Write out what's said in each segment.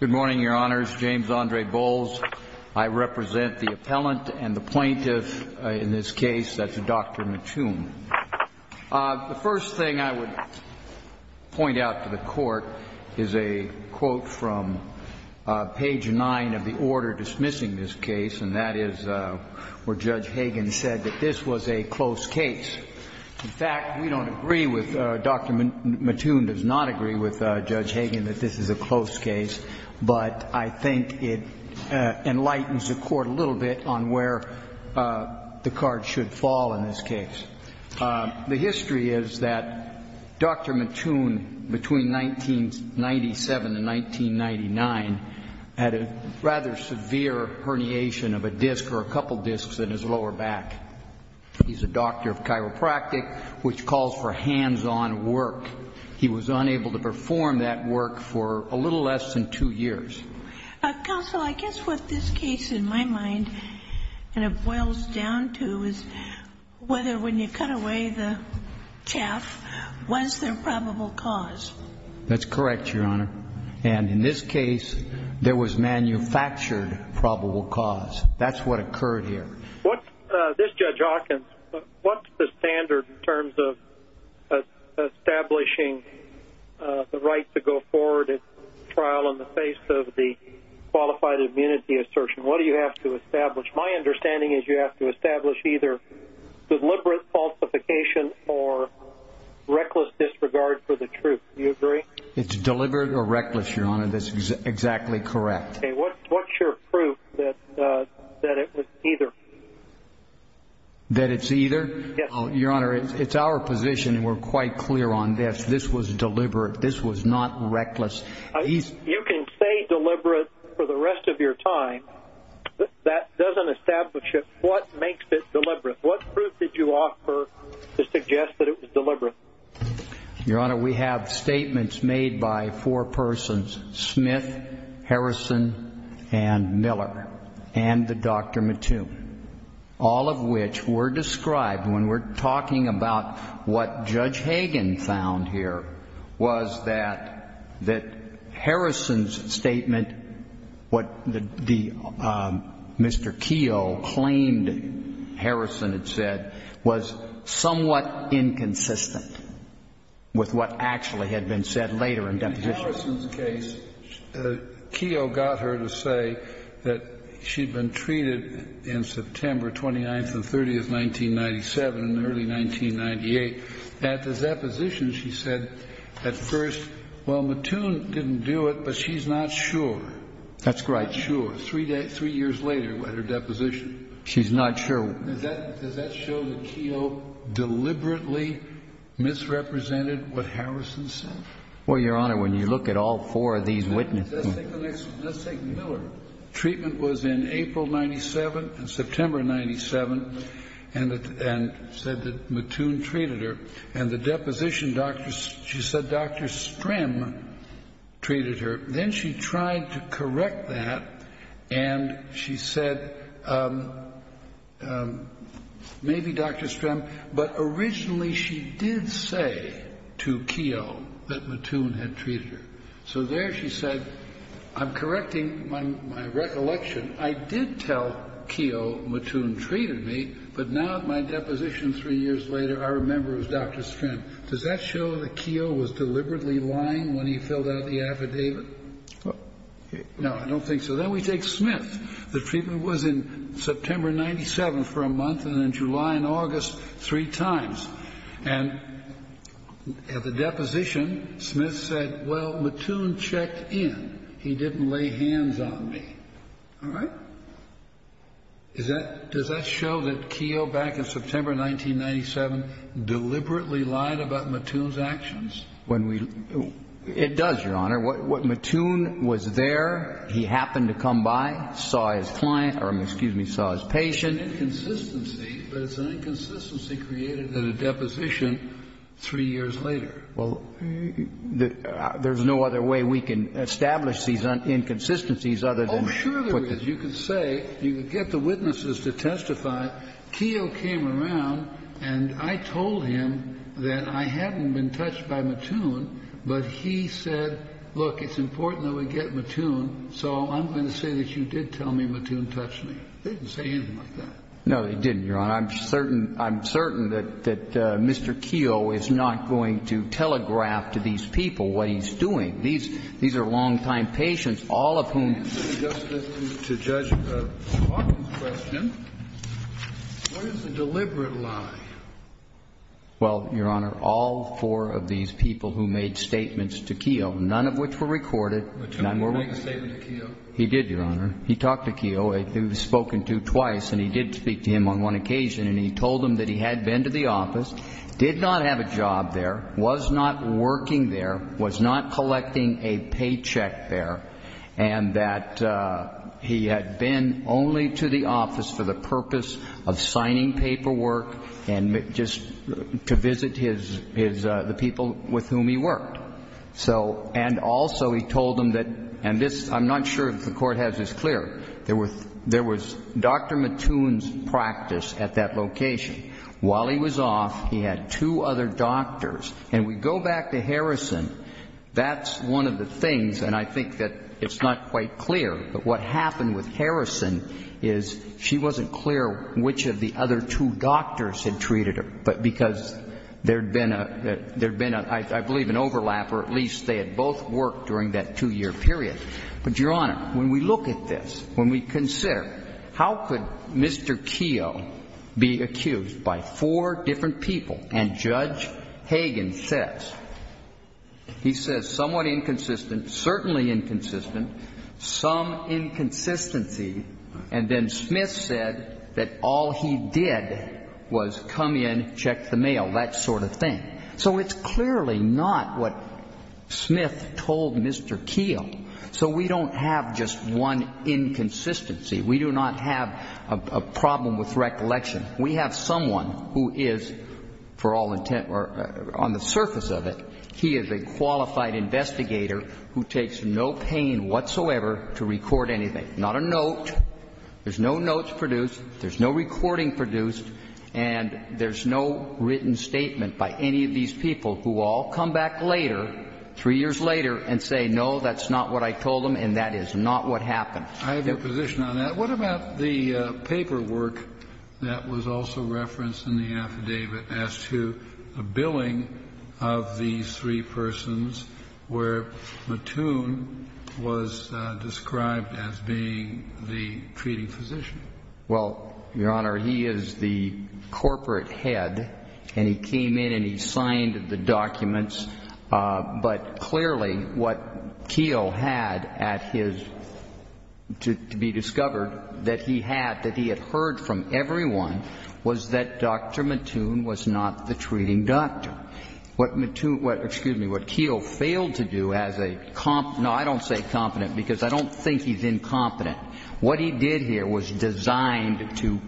Good morning, Your Honors. James Andre Bowles. I represent the appellant and the plaintiff in this case, that's Dr. Mattoon. The first thing I would point out to the Court is a quote from page 9 of the order dismissing this case, and that is where Judge Hagen said that this was a close case. In fact, we don't agree with, Dr. Mattoon does not agree with Judge Hagen that this is a close case, but I think it enlightens the Court a little bit on where the card should fall in this case. The history is that Dr. Mattoon, between 1997 and 1999, had a rather severe herniation of a disc or a couple discs in his lower back. He's a doctor of chiropractic, which calls for hands-on work. He was unable to perform that work for a little less than two years. Counsel, I guess what this case, in my mind, and it boils down to, is whether when you cut away the chaff, was there probable cause? That's correct, Your Honor. And in this case, there was manufactured probable cause. That's what occurred here. This Judge Hawkins, what's the standard in terms of establishing the right to go forward at trial in the face of the qualified immunity assertion? What do you have to establish? My understanding is you have to establish either deliberate falsification or reckless disregard for the truth. Do you agree? It's deliberate or reckless, Your Honor. That's exactly correct. Okay. What's your proof that it was either? That it's either? Your Honor, it's our position, and we're quite clear on this. This was deliberate. This was not reckless. You can say deliberate for the rest of your time, but that doesn't establish what makes it deliberate. What proof did you offer to suggest that it was deliberate? Your Honor, we have statements made by four persons, Smith, Harrison, and Miller, and the Dr. Mattoon, all of which were described when we're talking about what Judge Hagan found here was that Harrison's statement, what Mr. Keogh claimed Harrison had said, was somewhat inconsistent with what actually had been said later in deposition. In Harrison's case, Keogh got her to say that she'd been treated in September 29th and 30th, 1997, and early 1998. At the deposition, she said at first, well, Mattoon didn't do it, but she's not sure. That's right. Sure. Three years later at her deposition. She's not sure. Does that show that Keogh deliberately misrepresented what Harrison said? Well, Your Honor, when you look at all four of these witnesses. Let's take Miller. Treatment was in April 1997 and September 1997, and said that Mattoon treated her. And the deposition, she said Dr. Strim treated her. Then she tried to correct that, and she said maybe Dr. Strim, but originally she did say to Keogh that Mattoon had treated her. So there she said, I'm correcting my recollection. I did tell Keogh Mattoon treated me, but now at my deposition three years later, I remember it was Dr. Strim. Does that show that Keogh was deliberately lying when he filled out the affidavit? No, I don't think so. So then we take Smith. The treatment was in September 1997 for a month, and then July and August three times. And at the deposition, Smith said, well, Mattoon checked in. He didn't lay hands on me. All right. Does that show that Keogh back in September 1997 deliberately lied about Mattoon's actions? It does, Your Honor. What Mattoon was there, he happened to come by, saw his client or, excuse me, saw his patient. It's an inconsistency, but it's an inconsistency created at a deposition three years later. Well, there's no other way we can establish these inconsistencies other than put them. Oh, sure there is. You can say, you can get the witnesses to testify. Keogh came around, and I told him that I hadn't been touched by Mattoon, but he said, look, it's important that we get Mattoon, so I'm going to say that you did tell me Mattoon touched me. They didn't say anything like that. No, they didn't, Your Honor. I'm certain that Mr. Keogh is not going to telegraph to these people what he's doing. These are longtime patients, all of whom. To answer the Justice and to Judge Hawkins' question, what is the deliberate lie? Well, Your Honor, all four of these people who made statements to Keogh, none of which were recorded. Mattoon made a statement to Keogh? He did, Your Honor. He talked to Keogh. He was spoken to twice, and he did speak to him on one occasion, and he told him that he had been to the office, did not have a job there, was not working there, was not collecting a paycheck there, and that he had been only to the office for the purpose of signing paperwork and just to visit the people with whom he worked. And also he told him that, and I'm not sure if the Court has this clear, there was Dr. Mattoon's practice at that location. While he was off, he had two other doctors. And we go back to Harrison, that's one of the things, and I think that it's not quite clear, but what happened with Harrison is she wasn't clear which of the other two doctors had treated her, because there had been, I believe, an overlap or at least they had both worked during that two-year period. But, Your Honor, when we look at this, when we consider how could Mr. Keogh be accused by four different people, and Judge Hagan says, he says somewhat inconsistent, certainly inconsistent, some inconsistency, and then Smith said that all he did was come in, check the mail, that sort of thing. So it's clearly not what Smith told Mr. Keogh. So we don't have just one inconsistency. We do not have a problem with recollection. We have someone who is, for all intent, or on the surface of it, he is a qualified investigator who takes no pain whatsoever to record anything, not a note. There's no notes produced. There's no recording produced. And there's no written statement by any of these people who all come back later, three years later, and say, no, that's not what I told them and that is not what happened. I have a position on that. What about the paperwork that was also referenced in the affidavit as to the billing of these three persons where Mattoon was described as being the treating physician? Well, Your Honor, he is the corporate head, and he came in and he signed the documents. But clearly what Keogh had at his, to be discovered, that he had, that he had heard from everyone, was that Dr. Mattoon was not the treating doctor. Now, what Mattoon, excuse me, what Keogh failed to do as a, no, I don't say competent, because I don't think he's incompetent. What he did here was designed to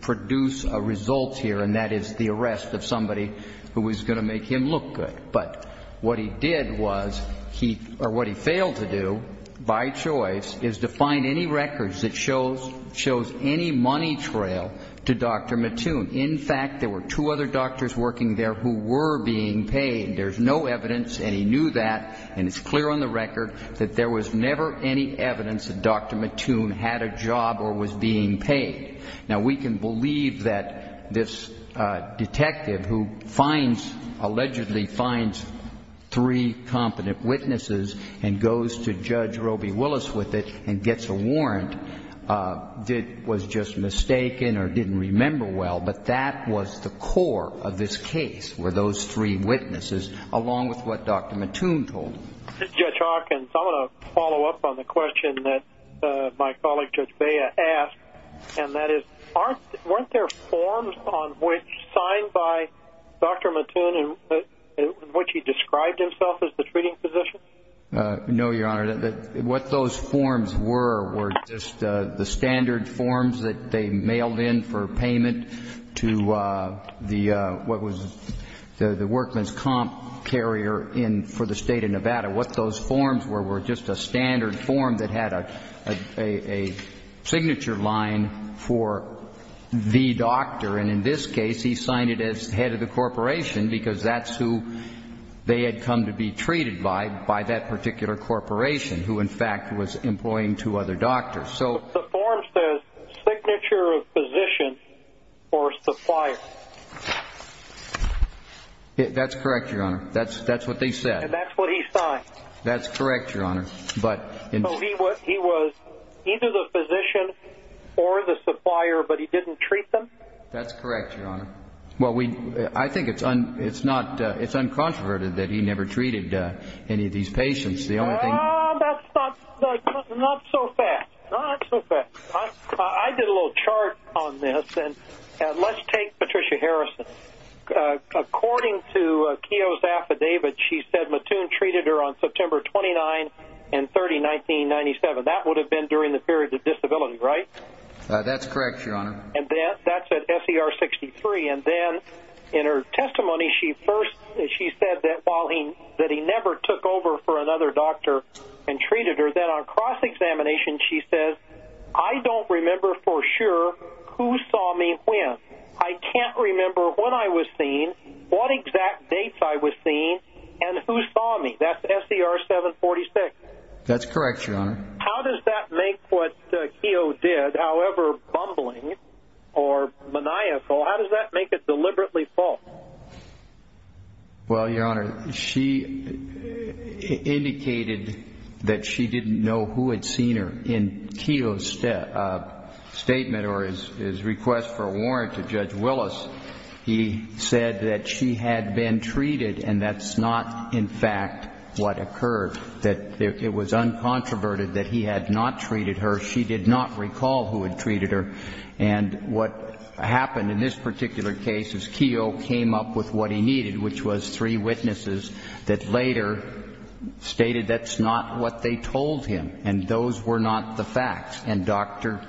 produce a result here, and that is the arrest of somebody who was going to make him look good. But what he did was, or what he failed to do by choice, is to find any records that shows any money trail to Dr. Mattoon. In fact, there were two other doctors working there who were being paid. There's no evidence, and he knew that, and it's clear on the record, that there was never any evidence that Dr. Mattoon had a job or was being paid. Now, we can believe that this detective who finds, allegedly finds, three competent witnesses and goes to Judge Roby Willis with it and gets a warrant was just mistaken or didn't remember well. But that was the core of this case were those three witnesses along with what Dr. Mattoon told him. Judge Hawkins, I want to follow up on the question that my colleague Judge Bea asked, and that is weren't there forms on which signed by Dr. Mattoon in which he described himself as the treating physician? No, Your Honor. What those forms were were just the standard forms that they mailed in for payment to the, what was the workman's comp carrier for the State of Nevada. What those forms were were just a standard form that had a signature line for the doctor, and in this case he signed it as head of the corporation because that's who they had come to be treated by, by that particular corporation who in fact was employing two other doctors. So the form says signature of physician or supplier. That's correct, Your Honor. That's what they said. And that's what he signed. That's correct, Your Honor. So he was either the physician or the supplier, but he didn't treat them? That's correct, Your Honor. Well, I think it's uncontroverted that he never treated any of these patients. That's not so fact. I did a little chart on this, and let's take Patricia Harrison. According to Keogh's affidavit, she said Mattoon treated her on September 29 and 30, 1997. That would have been during the period of disability, right? That's correct, Your Honor. And that's at SER 63. And then in her testimony she said that he never took over for another doctor and treated her. Then on cross-examination she says, I don't remember for sure who saw me when. I can't remember when I was seen, what exact dates I was seen, and who saw me. That's SER 746. That's correct, Your Honor. How does that make what Keogh did, however bumbling or maniacal, how does that make it deliberately false? Well, Your Honor, she indicated that she didn't know who had seen her. In Keogh's statement or his request for a warrant to Judge Willis, he said that she had been treated and that's not, in fact, what occurred. That it was uncontroverted that he had not treated her. She did not recall who had treated her. And what happened in this particular case is Keogh came up with what he needed, which was three witnesses that later stated that's not what they told him and those were not the facts. And Dr.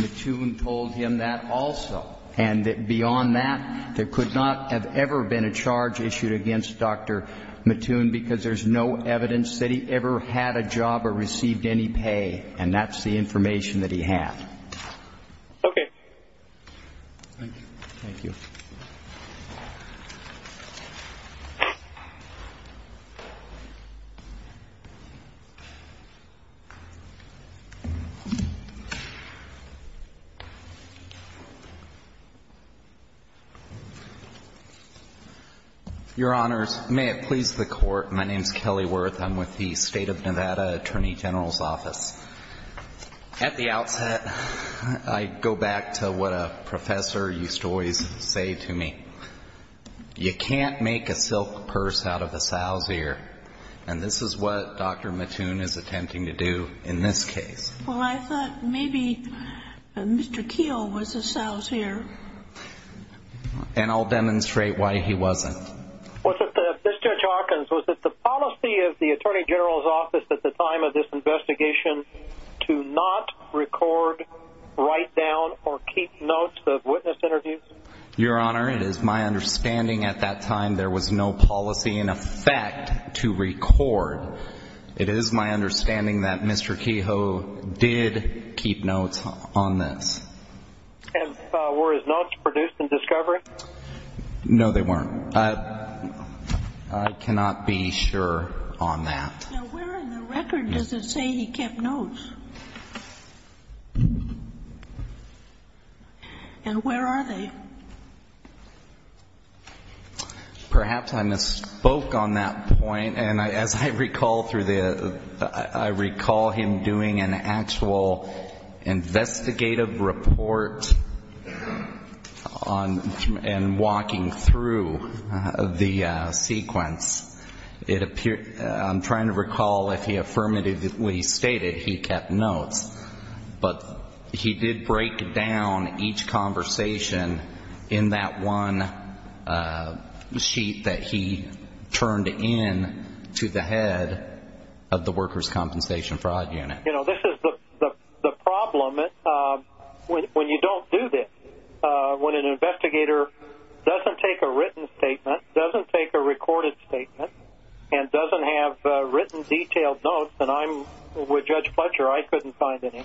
Mattoon told him that also. And beyond that, there could not have ever been a charge issued against Dr. Mattoon because there's no evidence that he ever had a job or received any pay. And that's the information that he had. Thank you. Thank you. Your Honors, may it please the Court. My name is Kelly Wirth. I'm with the State of Nevada Attorney General's Office. At the outset, I go back to what a professor used to always say to me. You can't make a mistake. You can't make a silk purse out of a sow's ear. And this is what Dr. Mattoon is attempting to do in this case. And I'll demonstrate why he wasn't. Mr. Hawkins, was it the policy of the Attorney General's Office at the time of this investigation to not record, write down, or keep notes of witness interviews? Your Honor, it is my understanding at that time there was no policy in effect to record. It is my understanding that Mr. Keogh did keep notes on this. And were his notes produced in discovery? No, they weren't. I cannot be sure on that. Now, where in the record does it say he kept notes? And where are they? Perhaps I misspoke on that point. And as I recall through the, I recall him doing an actual investigative report on, and walking through the sequence, it appeared, I'm trying to recall if he affirmatively stated he kept notes, but he did break down each conversation in that one sheet that he turned in to the head of the Workers' Compensation Fraud Unit. You know, this is the problem when you don't do this. When an investigator doesn't take a written statement, doesn't take a recorded statement, and doesn't have written detailed notes, and I'm with Judge Fletcher, I couldn't find any.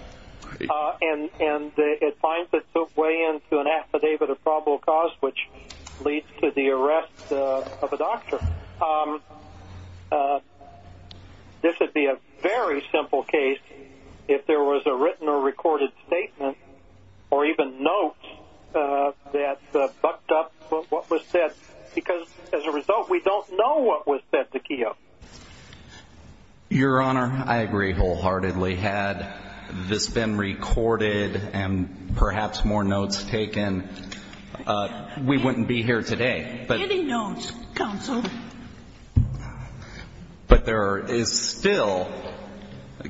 And it finds its way into an affidavit of probable cause, which leads to the arrest of a doctor. This would be a very simple case if there was a written or recorded statement, or even notes, that bucked up what was said, because as a result, we don't know what was said to Keough. Your Honor, I agree wholeheartedly. Had this been recorded and perhaps more notes taken, we wouldn't be here today. Any notes, counsel? But there is still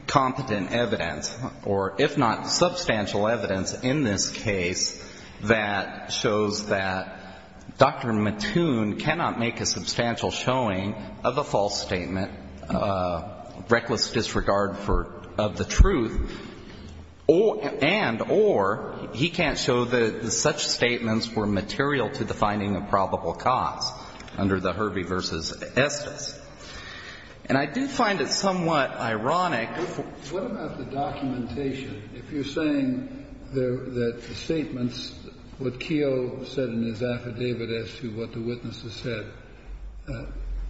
competent evidence, or if not substantial evidence in this case, that shows that Dr. Mattoon cannot make a substantial showing of a false statement, reckless disregard for the truth, and or he can't show that such statements were material to the finding of probable cause under the Herbie v. Estes. And I do find it somewhat ironic... What about the documentation? If you're saying that the statements, what Keough said in his affidavit as to what the witnesses said,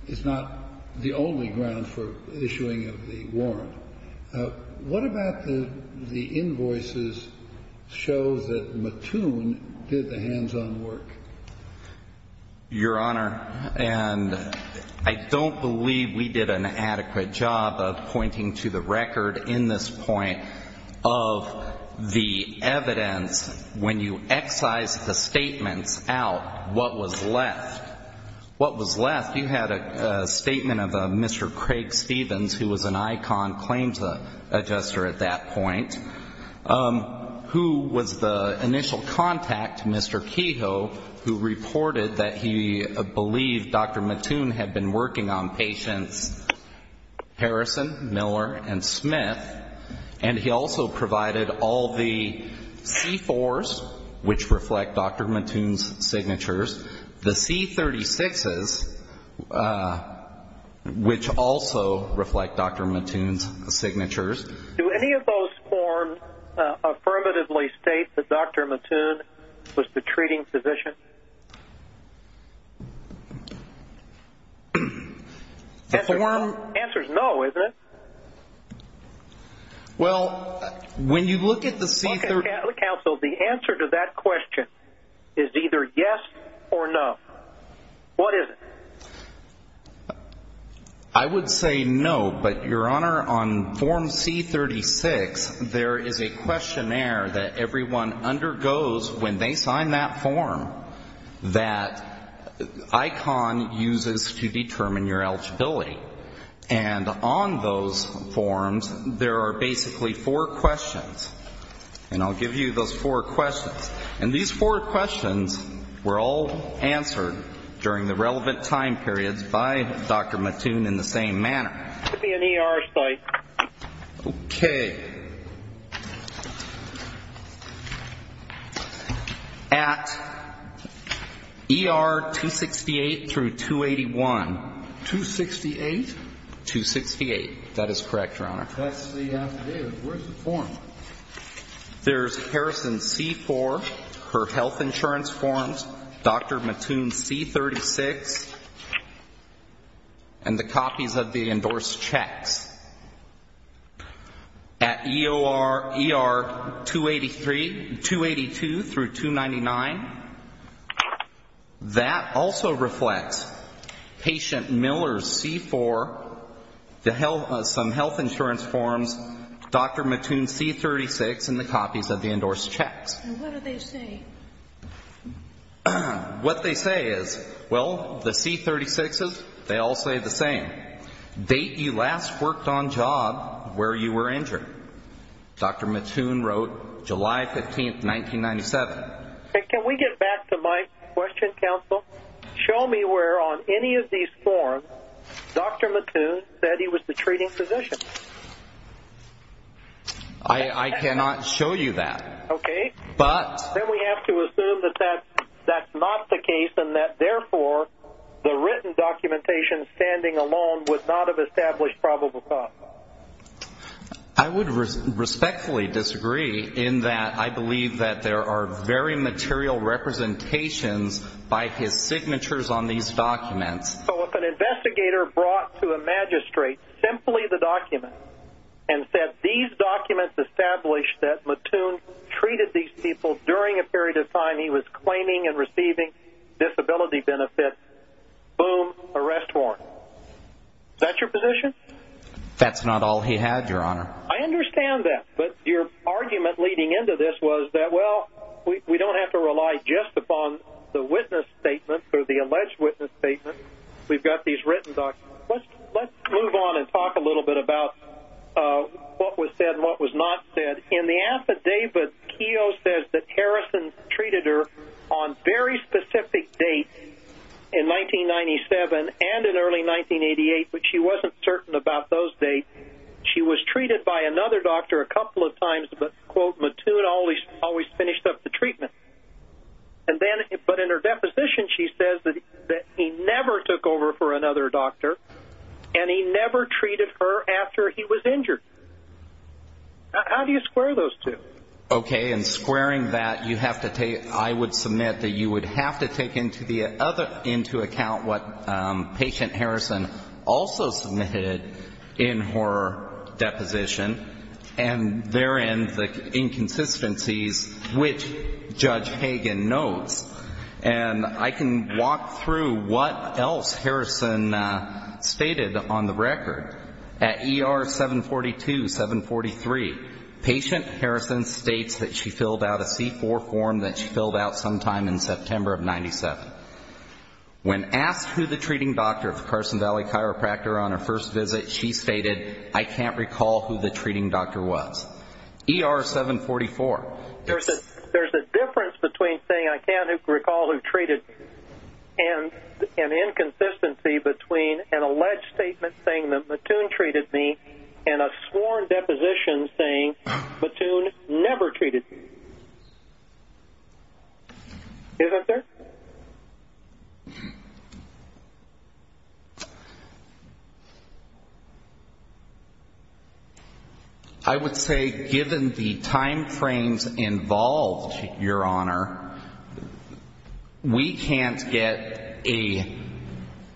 is not the only ground for issuing of the warrant, what about the invoices show that Mattoon did the hands-on work? Your Honor, and I don't believe we did an adequate job of pointing to the record in this point of the evidence when you excise the statements out, what was left. What was left, you had a statement of Mr. Craig Stevens, who was an icon claims adjuster at that point, who was the initial contact to Mr. Keough, who reported that he believed Dr. Mattoon had been working on patients Harrison, Miller, and Smith, and he also provided all the C4s, which reflect Dr. Mattoon's signatures, the C36s, which also reflect Dr. Mattoon's signatures. Do any of those forms affirmatively state that Dr. Mattoon was the treating physician? The form... The answer's no, isn't it? Well, when you look at the C36... Counsel, the answer to that question is either yes or no. What is it? I would say no, but, Your Honor, on form C36, there is a questionnaire that everyone undergoes when they sign that form that ICON uses to determine your eligibility, and on those forms, there are basically four questions, and I'll give you those four questions. And these four questions were all answered during the relevant time periods by Dr. Mattoon in the same manner. Could be an ER site. Okay. At ER 268 through 281... 268? 268. That is correct, Your Honor. That's the... Where's the form? There's Harrison C4, her health insurance forms, Dr. Mattoon's C36, and the copies of the endorsed checks. At ER 283... 282 through 299, that also reflects patient Miller's C4, some health insurance forms, Dr. Mattoon's C36, and the copies of the endorsed checks. And what do they say? What they say is, well, the C36s, they all say the same. Date you last worked on job, where you were injured. Dr. Mattoon wrote July 15, 1997. Can we get back to my question, Counsel? Show me where on any of these forms Dr. Mattoon said he was the treating physician. I cannot show you that. Okay. But... Then we have to assume that that's not the case and that, therefore, the written documentation standing alone would not have established probable cause. I would respectfully disagree in that I believe that there are very material representations by his signatures on these documents. So if an investigator brought to a magistrate simply the documents and said these documents establish that Mattoon treated these people during a period of time he was claiming and receiving disability benefits, boom, arrest warrant. Is that your position? That's not all he had, Your Honor. I understand that, but your argument leading into this was that, well, we don't have to rely just upon the witness statement or the alleged witness statement. We've got these written documents. Let's move on and talk a little bit about what was said and what was not said. In the affidavit, Keogh says that Harrison treated her on very specific dates, in 1997 and in early 1988, but she wasn't certain about those dates. She was treated by another doctor a couple of times, but, quote, Mattoon always finished up the treatment. But in her deposition, she says that he never took over for another doctor and he never treated her after he was injured. How do you square those two? Okay, and squaring that, I would submit that you would have to take into account what patient Harrison also submitted in her deposition, and therein the inconsistencies which Judge Hagan notes. And I can walk through what else Harrison stated on the record. At ER 742, 743, patient Harrison states that she filled out a C-4 form that she filled out sometime in September of 97. When asked who the treating doctor of Carson Valley Chiropractor on her first visit, she stated, I can't recall who the treating doctor was. ER 744. There's a difference between saying I can't recall who treated me and an inconsistency between an alleged statement saying that Mattoon treated me and a sworn deposition saying Mattoon never treated me. Isn't there? I would say given the timeframes involved, Your Honor, we can't get a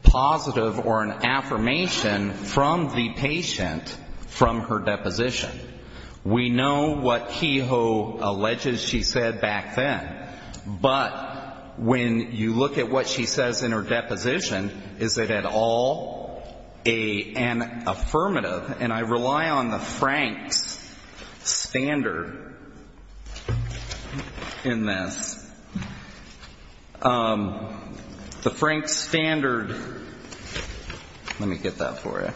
positive or an affirmation from the patient from her deposition. We know what Kehoe alleges she said back then, but when you look at what she says in her deposition, is it at all an affirmative? And I rely on the Franks standard in this. The Franks standard, let me get that for you,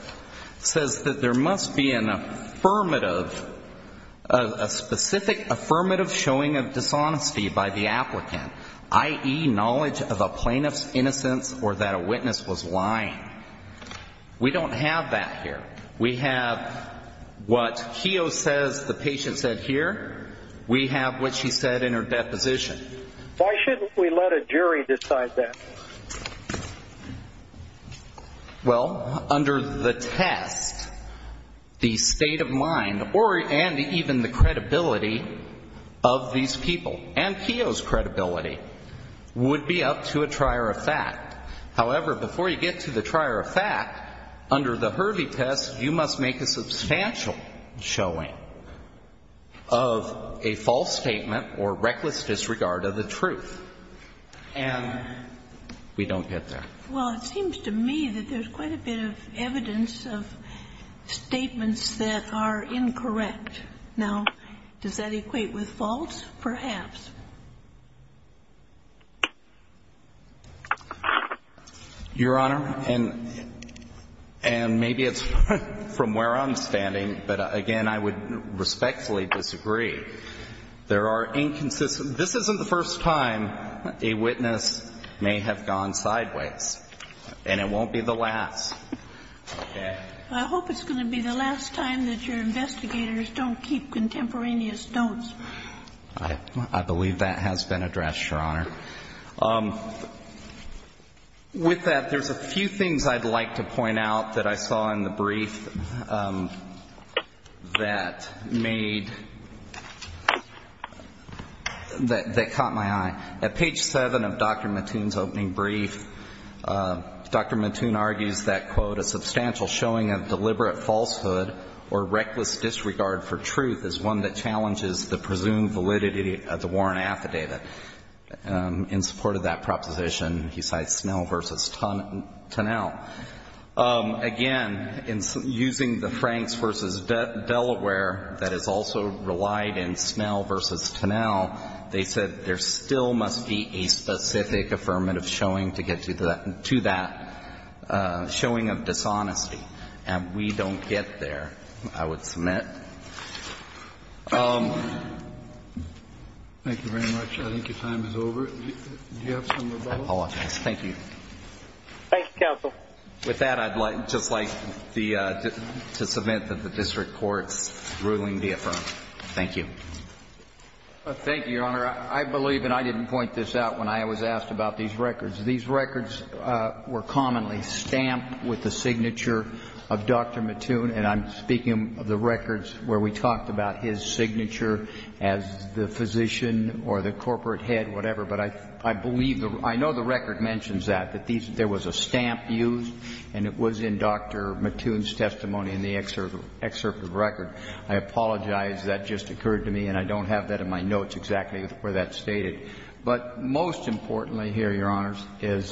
says that there must be an affirmative, a specific affirmative showing of dishonesty by the applicant, i.e. knowledge of a plaintiff's innocence or that a witness was lying. We don't have that here. We have what Kehoe says the patient said here. We have what she said in her deposition. Why shouldn't we let a jury decide that? Well, under the test, the state of mind and even the credibility of these people and Kehoe's credibility would be up to a trier of fact. However, before you get to the trier of fact, under the Hurley test, you must make a substantial showing of a false statement or reckless disregard of the truth. And we don't get there. Well, it seems to me that there's quite a bit of evidence of statements that are incorrect. Now, does that equate with false? Perhaps. Your Honor, and maybe it's from where I'm standing, but again, I would respectfully disagree. There are inconsistent. This isn't the first time a witness may have gone sideways, and it won't be the last. I hope it's going to be the last time that your investigators don't keep contemporaneous don'ts. I believe that has been addressed, Your Honor. With that, there's a few things I'd like to point out that I saw in the brief that made, that caught my eye. At page 7 of Dr. Mattoon's opening brief, Dr. Mattoon argues that, quote, a substantial showing of deliberate falsehood or reckless disregard for truth is one that challenges the presumed validity of the Warren affidavit. In support of that proposition, he cites Snell v. Tonnell. Again, in using the Franks v. Delaware that has also relied in Snell v. Tonnell, they said there still must be a specific affirmative showing to get to that showing of dishonesty, and we don't get there, I would submit. Thank you very much. I think your time is over. Do you have something to add? I apologize. Thank you. Thank you, counsel. With that, I'd just like to submit that the district court's ruling be affirmed. Thank you. Thank you, Your Honor. I believe, and I didn't point this out when I was asked about these records, these records were commonly stamped with the signature of Dr. Mattoon, and I'm speaking of the records where we talked about his signature as the physician or the corporate head, whatever. But I believe, I know the record mentions that, that there was a stamp used, and it was in Dr. Mattoon's testimony in the excerpt of the record. I apologize. That just occurred to me, and I don't have that in my notes exactly where that's stated. But most importantly here, Your Honors, is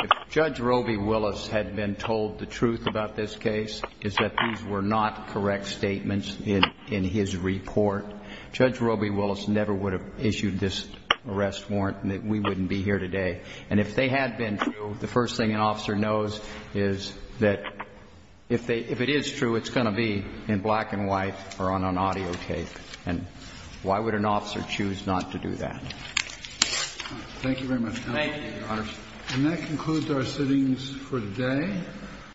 if Judge Roby Willis had been told the truth about this case, is that these were not correct statements in his report, Judge Roby Willis never would have issued this arrest warrant, and we wouldn't be here today. And if they had been true, the first thing an officer knows is that if it is true, it's going to be in black and white or on an audio tape. And why would an officer choose not to do that? Thank you very much. Thank you, Your Honors. And that concludes our sittings for today.